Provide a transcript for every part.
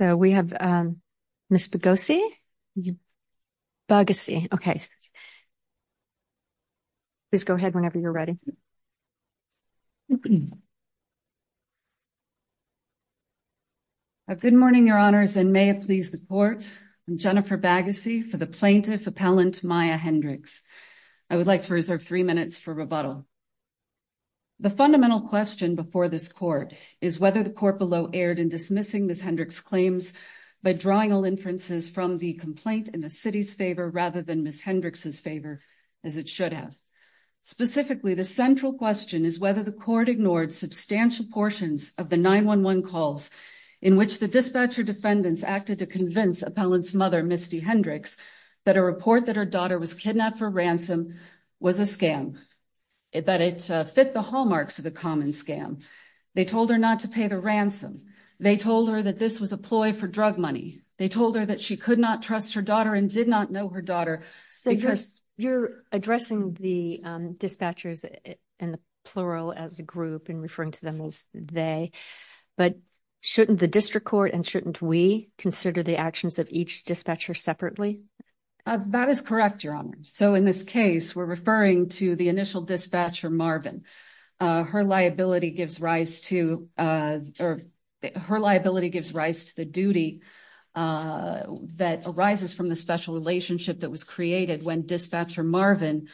So, we have Miss Boghossian, Boghossian, okay, please go ahead whenever you're ready. Good morning, Your Honors, and may it please the Court, I'm Jennifer Bagassi for the Plaintiff Appellant Maya Hendrix. I would like to reserve three minutes for rebuttal. The fundamental question before this Court is whether the Court below erred in dismissing Miss Hendrix's claims by drawing all inferences from the complaint in the City's favor rather than Miss Hendrix's favor as it should have. Specifically, the central question is whether the Court ignored substantial portions of the 911 calls in which the dispatcher defendants acted to convince Appellant's mother, Misty Hendrix, that a report that her daughter was kidnapped for ransom was a scam, that it fit the hallmarks of a common scam. They told her not to pay the ransom. They told her that this was a ploy for drug money. They told her that she could not her daughter and did not know her daughter. So you're addressing the dispatchers in the plural as a group and referring to them as they, but shouldn't the District Court and shouldn't we consider the actions of each dispatcher separately? That is correct, Your Honors. So in this case, we're referring to the initial dispatcher, Marvin. Her liability gives rise to the duty that arises from the special relationship that was created when Dispatcher Marvin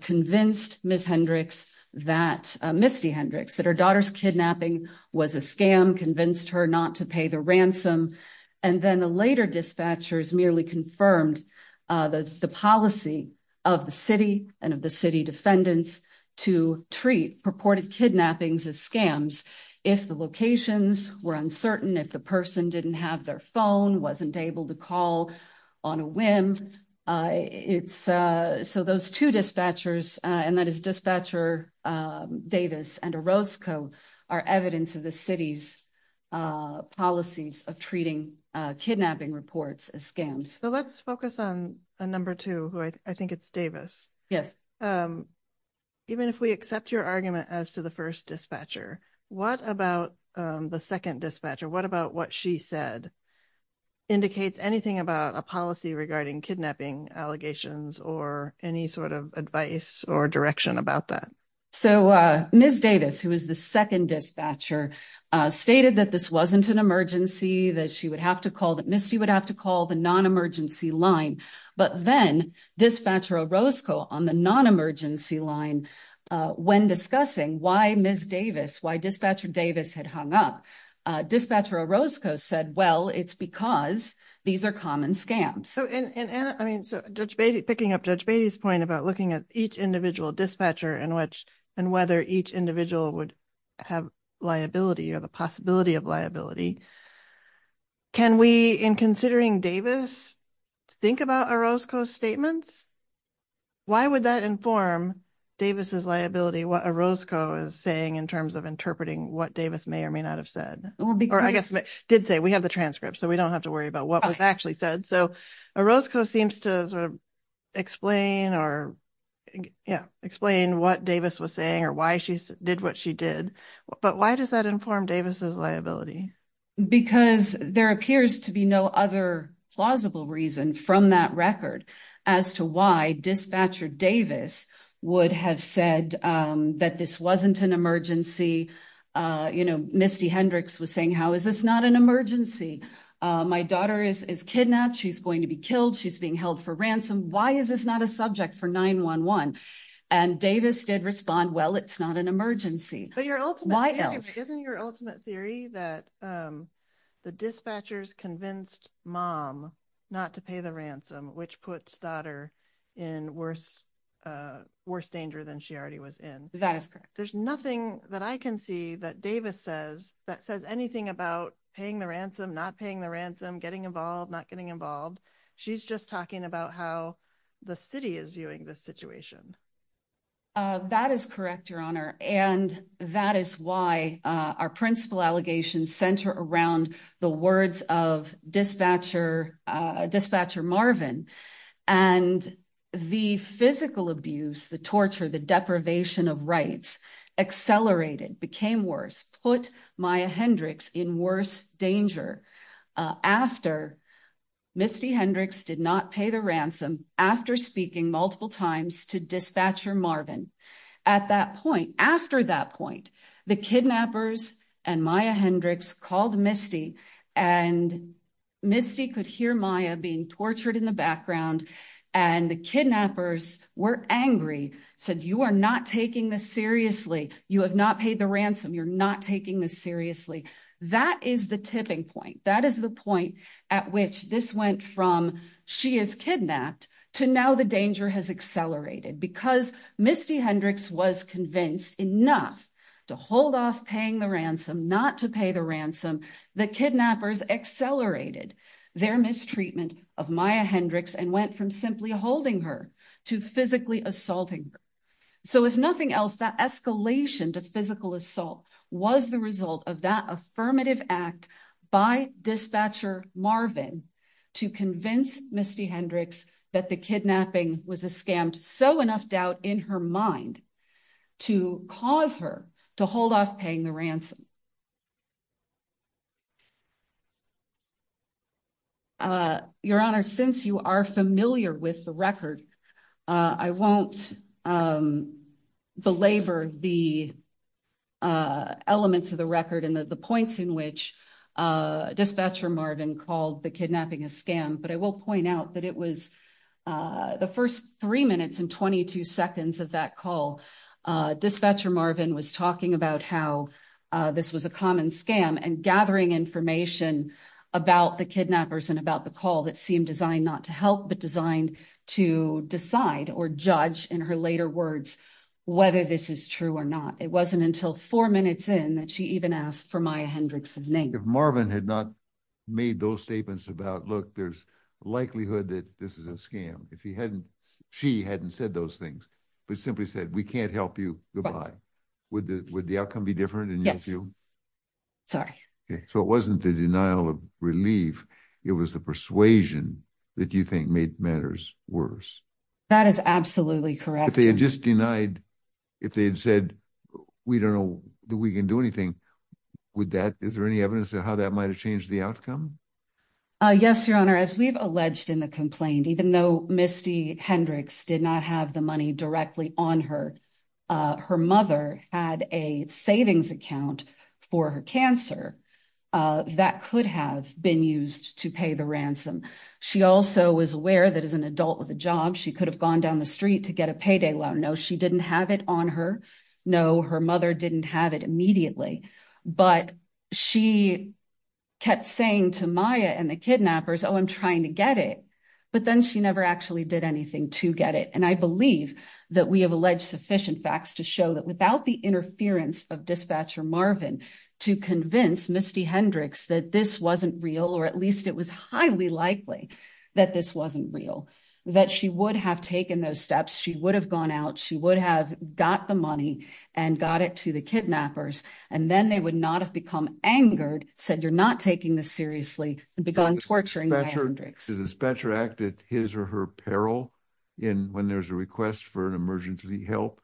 convinced Miss Hendrix that, Misty Hendrix, that her daughter's kidnapping was a scam, convinced her not to pay the ransom. And then the later dispatchers merely confirmed the policy of the City and of the City defendants to treat purported kidnappings as scams if the locations were uncertain, if the person didn't have their phone, wasn't able to call on a whim. So those two dispatchers, and that is Dispatcher Davis and Orozco, are evidence of the City's policies of treating kidnapping reports as scams. So let's focus on a number two, who I think it's second dispatcher. What about what she said? Indicates anything about a policy regarding kidnapping allegations or any sort of advice or direction about that? So Miss Davis, who is the second dispatcher, stated that this wasn't an emergency, that she would have to call, that Misty would have to call the non-emergency line. But then Dispatcher Orozco on the non-emergency line, when discussing why Miss Davis, why Dispatcher Davis had hung up, Dispatcher Orozco said, well, it's because these are common scams. So, and Anna, I mean, so Judge Beatty, picking up Judge Beatty's point about looking at each individual dispatcher and whether each individual would have liability or the possibility of liability, can we, in considering Davis, think about Orozco's statements? Why would that inform Davis's liability, what Orozco is saying in terms of interpreting what Davis may or may not have said? Or I guess, did say, we have the transcript, so we don't have to worry about what was actually said. So Orozco seems to sort of explain or, yeah, explain what Davis was saying or why she did what she did. But why does that inform Davis's liability? Because there appears to be no other plausible reason from that record as to why Dispatcher Davis would have said that this wasn't an emergency. You know, Misty Hendricks was saying, how is this not an emergency? My daughter is kidnapped. She's going to be killed. She's being held for ransom. Why is this not a subject for 911? And Davis did respond, well, it's not an emergency. Why else? Isn't your ultimate theory that the dispatchers convinced mom not to pay the ransom, which puts daughter in worse danger than she already was in? That is correct. There's nothing that I can see that Davis says that says anything about paying the ransom, not paying the ransom, getting involved, not getting involved. She's just talking about how the city is viewing this situation. That is correct, Your Honor. And that is why our principal allegations center around the words of Dispatcher Marvin. And the physical abuse, the torture, the deprivation of rights accelerated, became worse, put Maya Hendricks in worse danger after Misty Hendricks did not pay the ransom after speaking multiple times to Dispatcher Marvin. At that point, after that point, the kidnappers and Maya Hendricks called Misty and Misty could hear Maya being tortured in the You have not paid the ransom. You're not taking this seriously. That is the tipping point. That is the point at which this went from she is kidnapped to now the danger has accelerated because Misty Hendricks was convinced enough to hold off paying the ransom, not to pay the ransom. The kidnappers accelerated their mistreatment of Maya Hendricks and went from simply holding her to physically assaulting her. So if nothing else, that escalation to physical assault was the result of that affirmative act by Dispatcher Marvin to convince Misty Hendricks that the kidnapping was a scammed. So enough doubt in her mind to cause her to hold off paying the ransom. I won't belabor the elements of the record and the points in which Dispatcher Marvin called the kidnapping a scam, but I will point out that it was the first three minutes and 22 seconds of that call. Dispatcher Marvin was talking about how this was a common scam and gathering information about the kidnappers and about the call that seemed designed not to help, but designed to decide or judge in her later words, whether this is true or not. It wasn't until four minutes in that she even asked for Maya Hendricks' name. If Marvin had not made those statements about, look, there's a likelihood that this is a scam. If he hadn't, she hadn't said those things, but simply said, we can't help you. Goodbye. Would the, would the outcome be different? Yes. Sorry. So it wasn't the denial of relief. It was the persuasion that you think made matters worse. That is absolutely correct. If they had just denied, if they had said, we don't know that we can do anything with that. Is there any evidence of how that might've changed the outcome? Yes, your honor, as we've alleged in the complaint, even though Misty Hendricks did not have the money directly on her, her mother had a savings account for her cancer that could have been used to pay the ransom. She also was aware that as an adult with a job, she could have gone down the street to get a payday loan. No, she didn't have it on her. No, her mother didn't have it immediately, but she kept saying to Maya and the kidnappers, oh, I'm trying to get it. But then she never actually did anything to get it. And I believe that we have alleged sufficient facts to show that without the interference of dispatcher Marvin to convince Misty Hendricks, that this wasn't real, or at least it was highly likely that this wasn't real, that she would have taken those steps. She would have gone out. She would have got the money and got it to the kidnappers. And then they would not have become angered, said you're not taking this seriously and begun torturing Hendricks. The dispatcher acted his or her peril in when there's a request for an emergency help.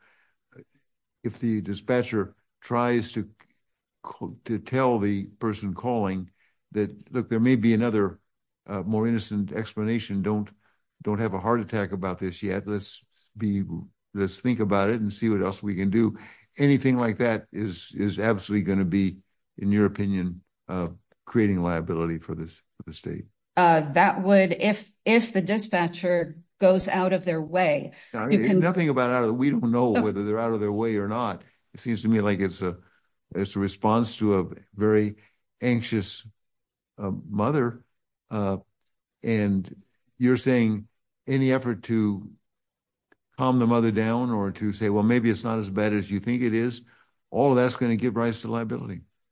If the dispatcher tries to tell the person calling that, look, there may be another more innocent explanation. Don't, don't have a heart attack about this yet. Let's be, let's think about it and see what else we can do. Anything like that is, is absolutely going to be in your of creating liability for this, for the state. That would, if, if the dispatcher goes out of their way, nothing about how we don't know whether they're out of their way or not, it seems to me like it's a, it's a response to a very anxious mother. And you're saying any effort to calm the mother down or to say, well, maybe it's not as bad as you think it is. All of that's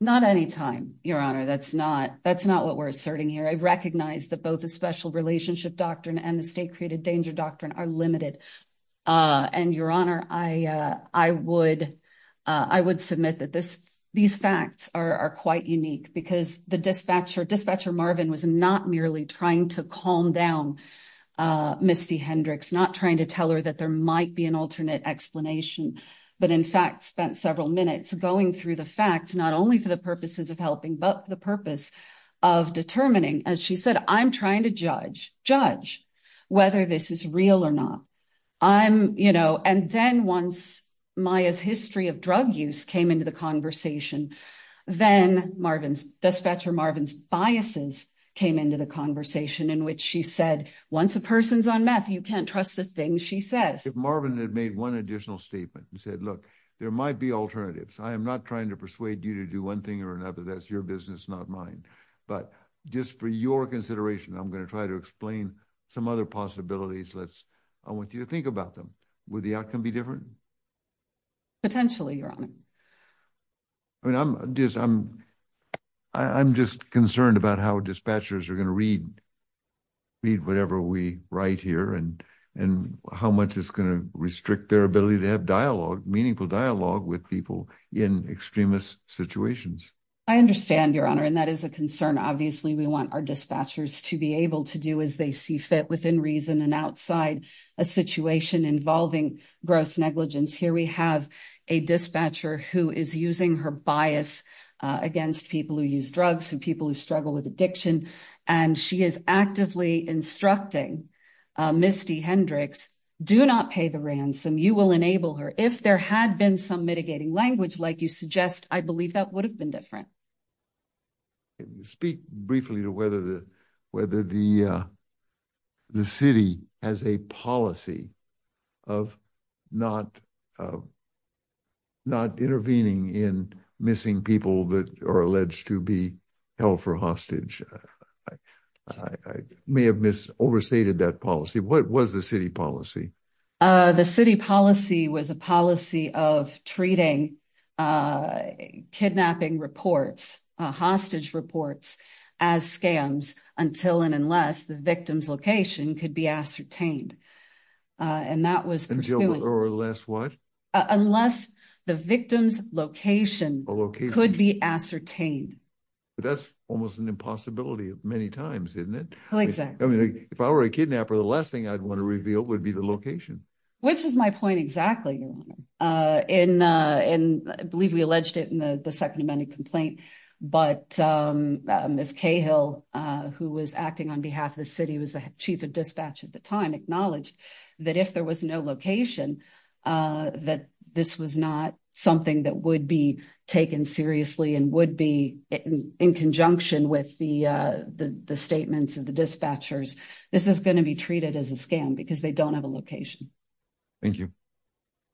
Not any time, your honor. That's not, that's not what we're asserting here. I recognize that both a special relationship doctrine and the state created danger doctrine are limited. Uh, and your honor, I, uh, I would, uh, I would submit that this, these facts are quite unique because the dispatcher dispatcher Marvin was not merely trying to calm down, uh, Misty Hendricks, not trying to tell her that there might be an alternate explanation, but in fact, spent several minutes going through the facts, not only for the purposes of helping, but the purpose of determining, as she said, I'm trying to judge judge whether this is real or not. I'm, you know, and then once Maya's history of drug use came into the conversation, then Marvin's dispatcher, Marvin's biases came into the conversation in which she said, once a person's on meth, you can't trust a thing. She says, Marvin had made one additional statement and said, look, there might be alternatives. I am not trying to persuade you to do one thing or another. That's your business, not mine, but just for your consideration, I'm going to try to explain some other possibilities. Let's, I want you to think about them. Would the outcome be different potentially? I mean, I'm just, I'm, I'm just concerned about how dispatchers are going to read, read whatever we write here and, and how much is going to restrict their ability to have dialogue, meaningful dialogue with people in extremist situations. I understand your honor. And that is a concern. Obviously we want our dispatchers to be able to do as they see fit within reason and outside a situation involving gross negligence. Here, we have a dispatcher who is using her bias against people who use drugs and people who struggle with addiction. And she is actively instructing Misty Hendricks, do not pay the ransom. You will enable her if there had been some mitigating language, like you suggest, I believe that would have been different. Speak briefly to whether the, whether the, the city has a policy of not, not intervening in missing people that are alleged to be held for hostage. I may have missed overstated that policy. What was the city policy? The city policy was a policy of treating kidnapping reports, hostage reports as scams until, and unless the victim's location could be ascertained. And that was, or less what? Unless the victim's location could be ascertained. That's almost an impossibility of many times, isn't it? I mean, if I were a kidnapper, the last thing I'd want to reveal would be the location. Which was my point. Exactly. And I believe we alleged it in the second amended complaint, but Ms. Cahill who was acting on behalf of the city was the chief of dispatch at the time acknowledged that if there was no location, uh, that this was not something that would be taken seriously and would be in conjunction with the, uh, the, the statements of the dispatchers, this is going to be treated as a scam because they don't have a location. Thank you.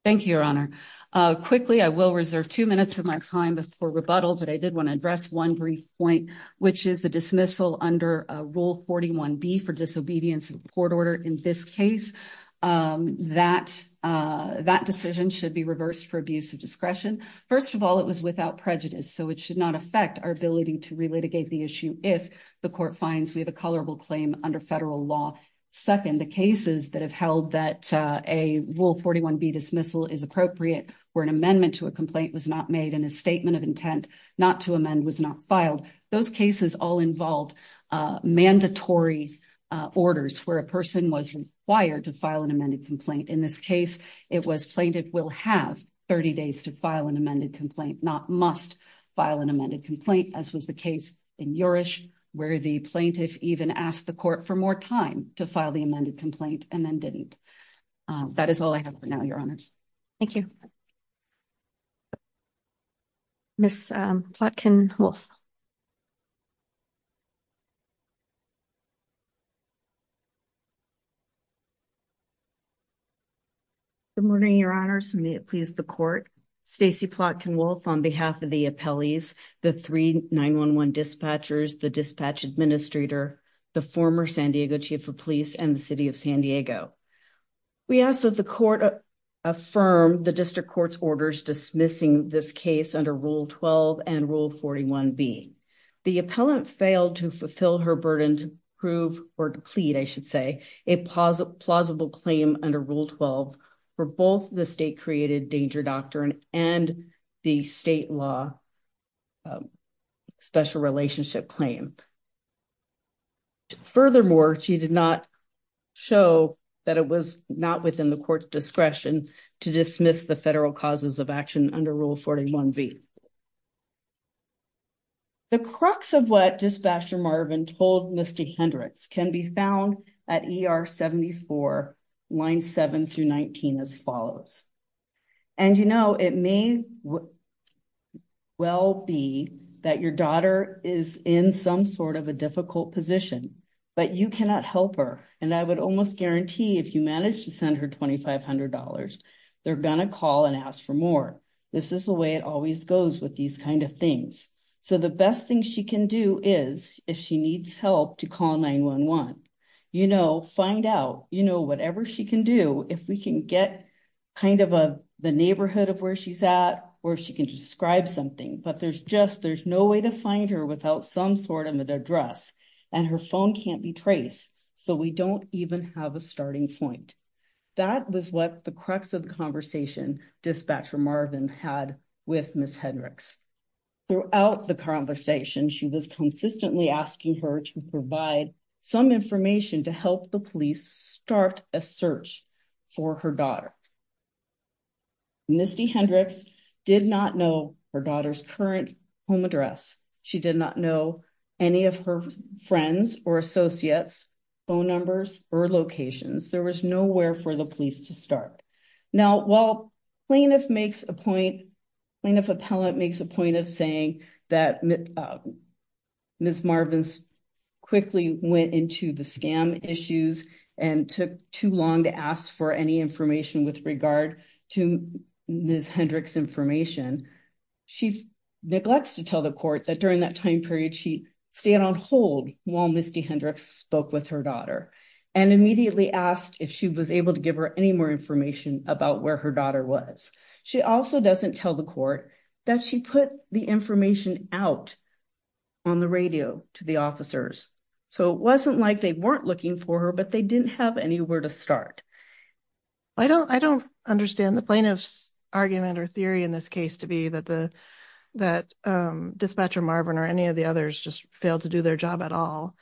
Thank you, your honor. Uh, quickly, I will reserve two minutes of my time before rebuttal, but I did want to address one brief point, which is the dismissal under a rule 41B for disobedience of court order. In this case, um, that, uh, that decision should be reversed for abuse of discretion. First of all, it was without prejudice, so it should not affect our ability to relitigate the issue. If the court finds we have a colorable claim under federal law. Second, the cases that have held that, uh, a rule 41B dismissal is appropriate where an amendment to a complaint was not made in a statement of intent not to amend was not filed. Those cases all involved, uh, mandatory, uh, orders where a person was required to file an amended complaint. In this case, it was plaintiff will have 30 days to file an amended complaint, not must file an amended complaint, as was the case in Yorish where the plaintiff even asked the court for more time to file the amended complaint and then didn't. Uh, that is all I have for now, Thank you. Miss Plotkin-Wolf. Good morning, your honors. May it please the court. Stacey Plotkin-Wolf on behalf of the appellees, the three 911 dispatchers, the dispatch administrator, the former San Diego chief of police, and the city of San Diego. We ask that the court affirm the district court's orders dismissing this case under Rule 12 and Rule 41B. The appellant failed to fulfill her burden to prove or plead, I should say, a plausible claim under Rule 12 for both the state-created danger doctrine and the state law special relationship claim. Furthermore, she did not show that it was not within the court's discretion to dismiss the federal causes of action under Rule 41B. The crux of what Dispatcher Marvin told Misty Hendricks can be found at ER 74, line 7 through 19 as follows. And you know, it may well be that your daughter is in some sort of a difficult position, but you cannot help her. And I would almost guarantee if you manage to send her $2,500, they're going to call and ask for more. This is the way it always goes with these kind of things. So the best thing she can do is, if she needs help to call 911, you know, find out, you know, whatever she can do, if we can get kind of a, the neighborhood of where she's at, or if she can describe something, but there's just, there's no way to find her without some sort of an address and her phone can't be traced. So we don't even have a starting point. That was what the crux of the conversation Dispatcher Marvin had with Miss Hendricks. Throughout the conversation, she was consistently asking her to provide some information to help the police start a search for her daughter. Misty Hendricks did not know her daughter's current home address. She did not know any of her friends or associates' phone numbers or locations. There was nowhere for police to start. Now, while plaintiff makes a point, plaintiff appellate makes a point of saying that Miss Marvin quickly went into the scam issues and took too long to ask for any information with regard to Miss Hendricks' information, she neglects to tell the court that during that time period, she stayed on hold while Misty Hendricks spoke with her daughter and immediately asked if she was able to give her any more information about where her daughter was. She also doesn't tell the court that she put the information out on the radio to the officers. So it wasn't like they weren't looking for her, but they didn't have anywhere to start. I don't, I don't understand the plaintiff's argument or theory in this case to be that the, that Dispatcher Marvin or any of the others just failed to do their job at all.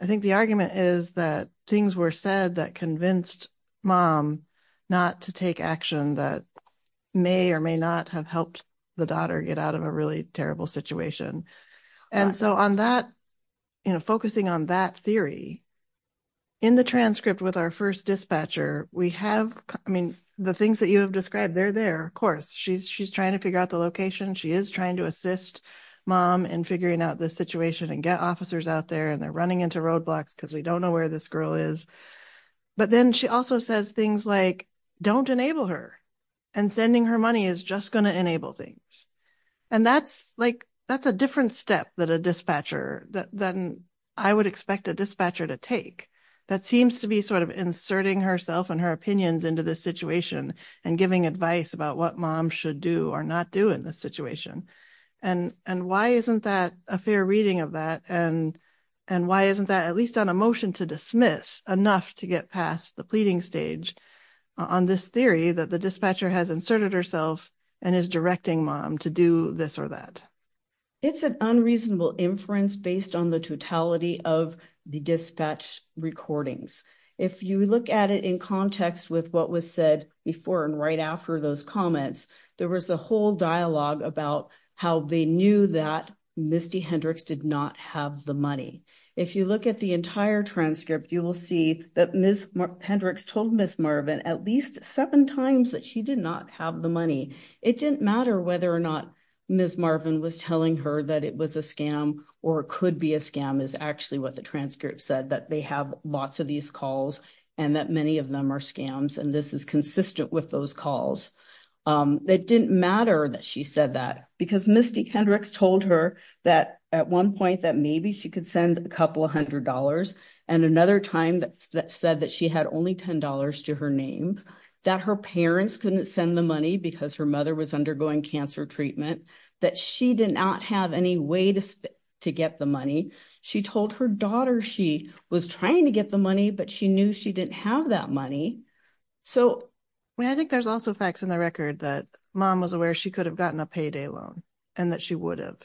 I think the argument is that things were said that convinced mom not to take action that may or may not have helped the daughter get out of a really terrible situation. And so on that, you know, focusing on that theory, in the transcript with our first dispatcher, we have, I mean, the things that you have described, they're there, of course. She's, she's trying to figure out the location. She is trying to assist mom in figuring out this situation and get officers out there and they're running into roadblocks because we don't know where this girl is. But then she also says things like, don't enable her and sending her money is just going to enable things. And that's like, that's a different step that a dispatcher that then I would expect a dispatcher to take that seems to be sort of inserting herself and her opinions into this situation and giving advice about what mom should do or not do in this situation. And, and why isn't that a fair reading of that? And, and why isn't that at least on a motion to dismiss enough to get past the pleading stage on this theory that the dispatcher has inserted herself and is directing mom to do this or that? It's an unreasonable inference based on the totality of the dispatch recordings. If you look at it in context with what was said before and right after those comments, there was a whole dialogue about how they knew that Misty Hendricks did not have the money. If you look at the entire transcript, you will see that Ms. Hendricks told Ms. Marvin at least seven times that she did not have the money. It didn't matter whether or not Ms. Marvin was telling her that it was a scam or it could be a scam is actually what the transcript said, that they have lots of these calls and that many of them are scams. And this is consistent with those calls. It didn't matter that she said that because Misty Hendricks told her that at one point, that maybe she could send a couple of hundred dollars. And another time that said that she had only $10 to her names, that her parents couldn't send the money because her mother was undergoing cancer treatment, that she did not have any way to get the money. She told her daughter she was trying to get the money, but she knew she didn't have that money. So I think there's also facts in the record that mom was aware she could have gotten a payday loan and that she would have,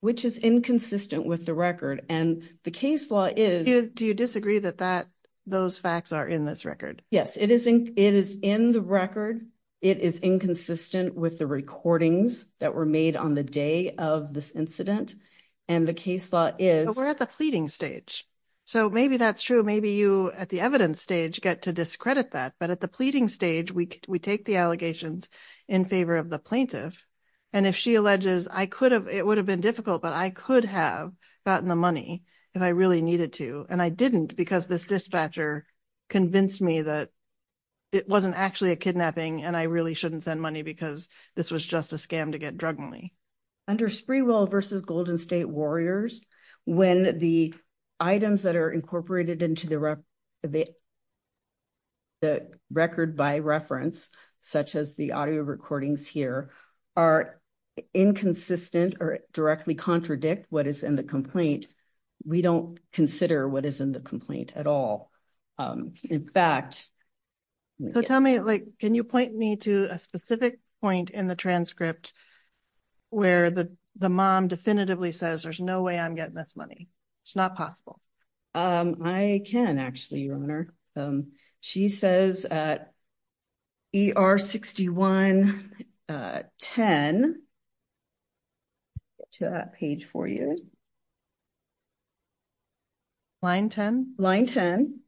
which is inconsistent with the record. And the case law is, do you disagree that that those facts are in this record? Yes, it is. It is in the record. It is inconsistent with the recordings that were made on the day of this incident. And the case law is we're at the pleading stage. So maybe that's true. Maybe you at the evidence stage get to discredit that. But at the pleading stage, we take the allegations in favor of the plaintiff. And if she alleges it would have been difficult, but I could have gotten the money if I really needed to. And I didn't because this dispatcher convinced me that it wasn't actually a kidnapping and I really shouldn't send money because this was just a scam to get drug money. Under Sprewell v. Golden State Warriors, when the items that are incorporated into the record by reference, such as the audio recordings here, are inconsistent or directly contradict what is in the complaint, we don't consider what is in the complaint at all. In fact, so tell me, can you point me to a specific point in the transcript where the mom definitively says there's no way I'm getting this money? It's not possible. I can actually, Your Honor. She says at ER 61-10, to that page for you. Line 10? Line 10.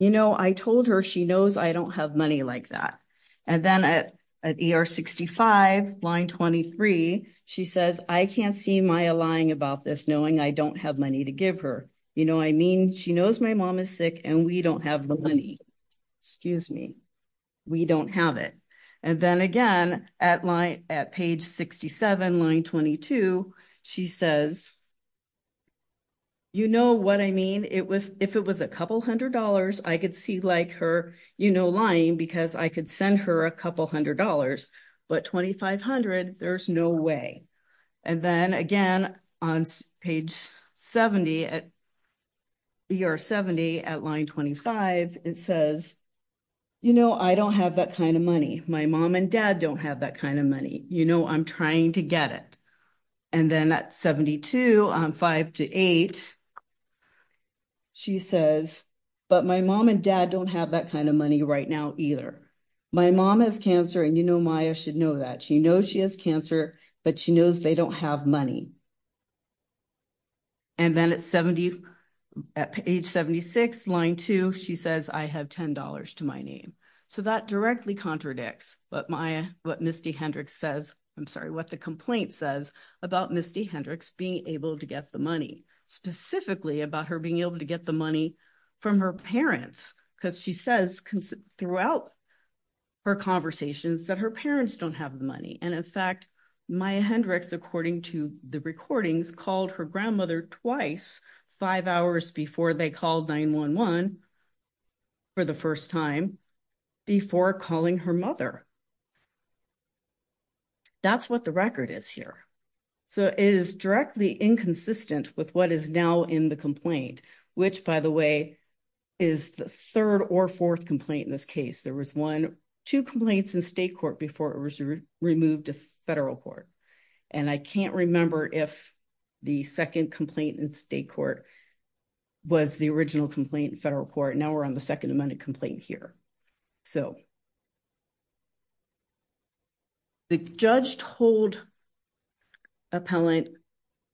You know, I told her she knows I don't have money like that. And then at ER 65, line 23, she says, I can't see Maya lying about this knowing I don't have money to give her. You know what I mean? She knows my mom is sick and we don't have the money. Excuse me. We don't have it. And then again, at page 67, line 22, she says, you know what I mean? If it was a couple hundred dollars, I could see like her, you know, lying because I could send her a couple hundred dollars, but 2,500, there's no way. And then again, on page 70, at ER 70, at line 25, it says, you know, I don't have that kind of money. My mom and dad don't have that kind of money. You know, I'm trying to get it. And then at 72, on five to eight, she says, but my mom and dad don't have that kind of money right now either. My mom has cancer and you know, Maya should know that. She knows she has cancer, but she knows they don't have money. And then at 70, at age 76, line two, she says, I have $10 to my name. So that directly contradicts what Maya, what Misty Hendricks says, I'm sorry, what the complaint says about Misty Hendricks being able to get the money, specifically about her being able to get the money from her parents. Cause she says throughout her conversations that her parents don't have the money. And in fact, Maya Hendricks, according to the recordings, called her grandmother twice, five hours before they called 911 for the first time before calling her mother. That's what the record is here. So it is directly inconsistent with what is now in the complaint, which by the way, is the third or fourth complaint. In this case, there was one, two complaints in state court before it was removed to federal court. And I can't remember if the second complaint in state court was the original complaint in federal court. Now we're on the second amendment complaint here. So the judge told appellant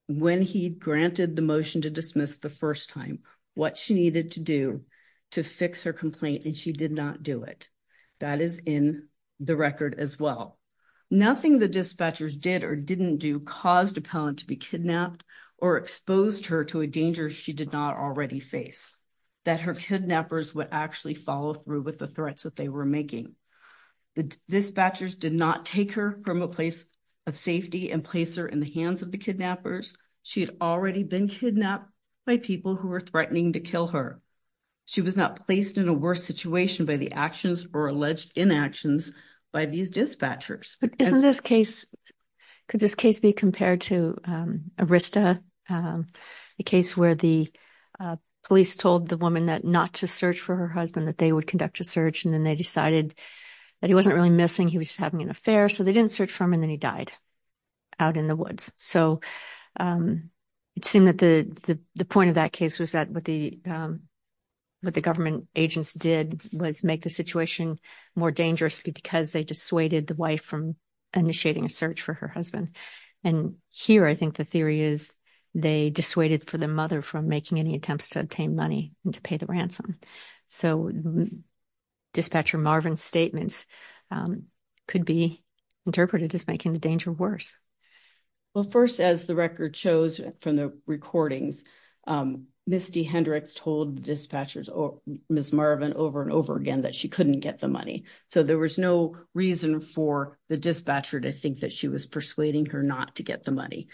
when he granted the motion to dismiss the first time what she needed to do to fix her complaint and she did not do it. That is in the record as well. Nothing the dispatchers did or didn't do caused appellant to be kidnapped or exposed her to a danger she did not already face. That her kidnappers would actually follow through with the threats that they were making. The dispatchers did not take her from a safety and place her in the hands of the kidnappers. She had already been kidnapped by people who were threatening to kill her. She was not placed in a worse situation by the actions or alleged inactions by these dispatchers. But in this case, could this case be compared to Arista, the case where the police told the woman that not to search for her husband, that they would conduct a search and then they decided that he wasn't really missing, he was just having an affair, so they didn't search for him and then he died out in the woods. So it seemed that the point of that case was that what the government agents did was make the situation more dangerous because they dissuaded the wife from initiating a search for her husband. And here I think the theory is they dissuaded for the mother from making any attempts to obtain money and to pay ransom. So Dispatcher Marvin's statements could be interpreted as making the danger worse. Well first, as the record shows from the recordings, Ms. D. Hendricks told the dispatchers, Ms. Marvin, over and over again that she couldn't get the money. So there was no reason for the dispatcher to think that she was persuading her not to get the money.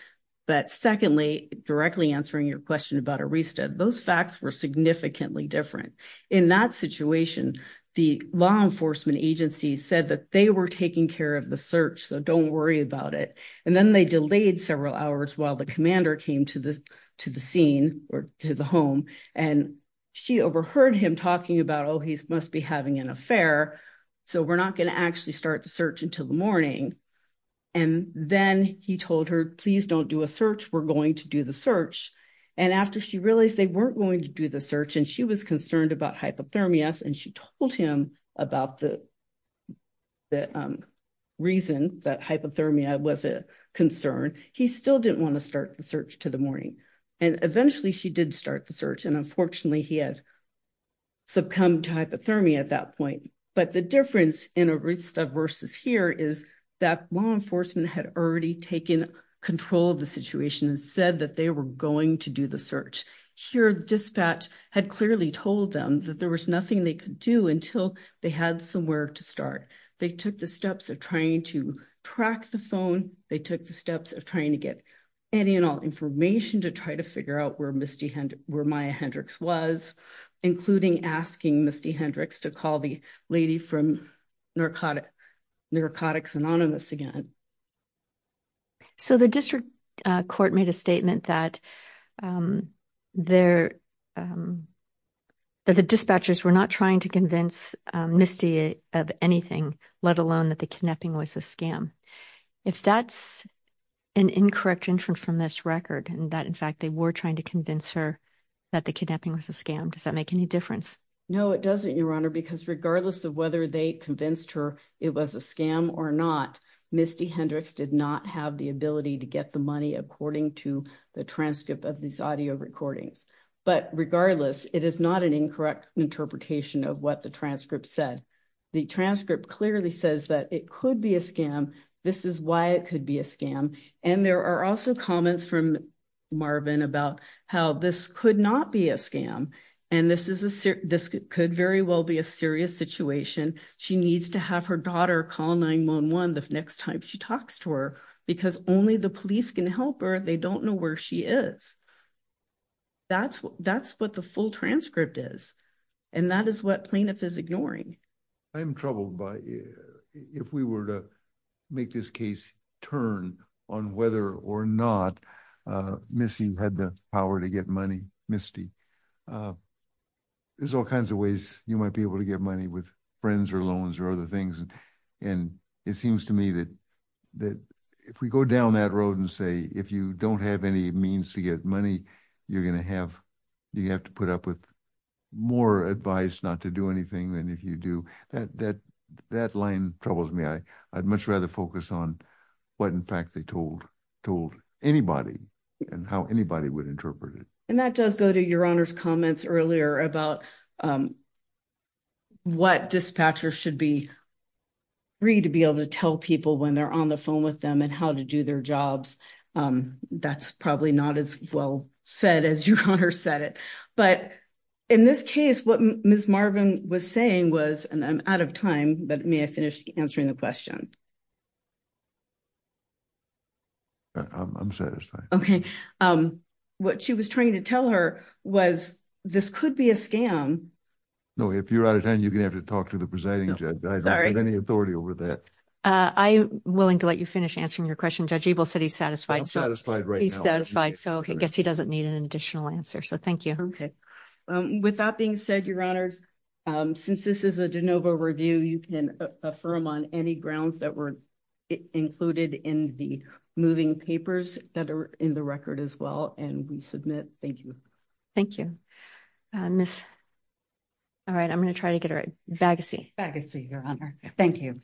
But secondly, directly answering your question about Arista, those facts were significantly different. In that situation, the law enforcement agency said that they were taking care of the search, so don't worry about it. And then they delayed several hours while the commander came to the scene or to the home and she overheard him talking about, oh he must be having an affair, so we're not going to actually start the search until the morning. And then he told her, please don't do a search, we're going to do the search. And after she realized they weren't going to do the search and she was concerned about hypothermia and she told him about the reason that hypothermia was a concern, he still didn't want to start the search to the morning. And eventually she did start the search and unfortunately he had succumbed to hypothermia at that point. But the difference in Arista versus here is that law enforcement had already taken control of the situation and said that they were going to do the search. Here the dispatch had clearly told them that there was nothing they could do until they had somewhere to start. They took the steps of trying to track the phone, they took the steps of trying to get any and all information to try to figure out where Maya Hendrix was, including asking Misty Hendrix to call the lady from Narcotics Anonymous again. So the district court made a statement that the dispatchers were not trying to convince Misty of anything, let alone that the kidnapping was a scam. If that's an incorrect inference from this record and that in fact they were trying to convince her that the kidnapping was a scam, does that make any difference? No it doesn't, Your Honor, because regardless of whether they convinced her it was a scam or not, Misty Hendrix did not have the ability to get the money according to the transcript of these audio recordings. But regardless, it is not an incorrect interpretation of what the transcript said. The transcript clearly says that it could be a scam, this is why it could be a scam. And there are also comments from Marvin about how this could not be a scam and this could very well be a serious situation. She needs to have her daughter call 9-1-1 the next time she talks to her because only the police can help her, they don't know where she is. That's what the full transcript is and that is what plaintiff is ignoring. I'm troubled by if we were to make this case turn on whether or not Misty had the power to get money. Misty, there's all kinds of ways you might be able to get money with friends or loans or other things, and it seems to me that if we go down that road and say if you don't have any means to get money, you're going to have to put up with more advice not to do anything than if you do, that line troubles me. I'd much rather focus on what in fact they told told anybody and how anybody would interpret it. And that does go to Your Honor's comments earlier about what dispatchers should be free to be able to tell people when they're on the phone with them and how to do their jobs. That's probably not as well said as Your Honor said it. But in this case, what Ms. Marvin was saying was, and I'm out of time, but may I finish answering the question? I'm satisfied. Okay. What she was trying to tell her was this could be a scam. No, if you're out of time, you're going to have to talk to the presiding judge. I don't have any authority over that. I'm willing to let you finish answering your question. Judge Ebel said he's satisfied. I'm satisfied right now. He's satisfied, so I guess he doesn't need an additional answer. So thank you. Okay. With that being said, Your Honors, since this is a de novo review, you can affirm on any grounds that were included in the moving papers that are in the record as well, and we submit. Thank you. Thank you. All right. I'm going to try to get a vagacy. Vagacy, Your Honor. Thank you.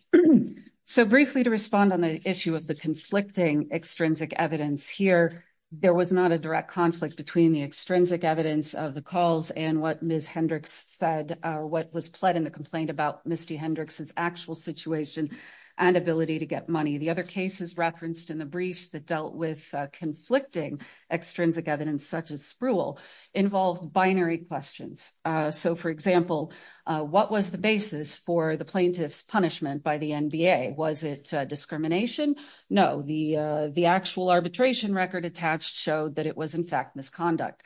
So briefly to respond on the issue of the conflicting extrinsic evidence here, there was not a direct conflict between the extrinsic evidence of the calls and what Ms. Hendricks said, what was pled in the complaint about Misty Hendricks's actual situation and ability to get money. The other cases referenced in the briefs that dealt with conflicting extrinsic evidence, such as Spruill, involved binary questions. So for example, what was the basis for the plaintiff's punishment by the NBA? Was it discrimination? No. The actual arbitration record attached showed that it was, in fact, misconduct.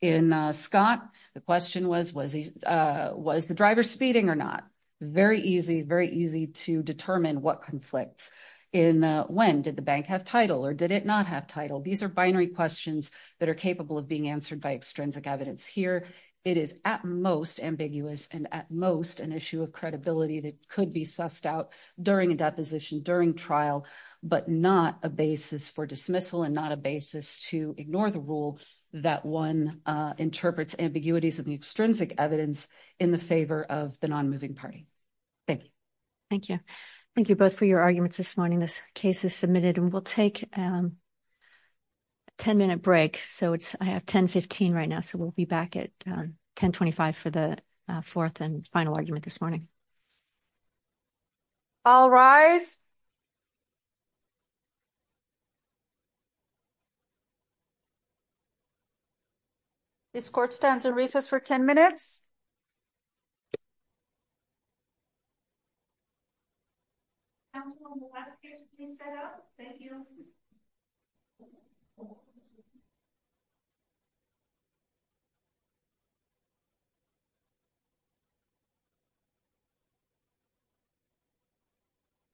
In Scott, the question was, was the driver speeding or not? Very easy, very easy to determine what conflicts. In Wend, did the bank have title or did it not have title? These are binary questions that are capable of being answered by extrinsic evidence here. It is at most ambiguous and at most an issue of credibility that could be sussed out during a deposition, during trial, but not a basis for dismissal and not a basis to ignore the rule that one interprets ambiguities of the extrinsic evidence in the favor of the non-moving party. Thank you. Thank you. Thank you both for your arguments this morning. This case is submitted and we'll take a 10-minute break. So I have 1015 right now, so we'll be back at 1025 for the fourth and final argument this morning. All rise. This court stands on recess for 10 minutes.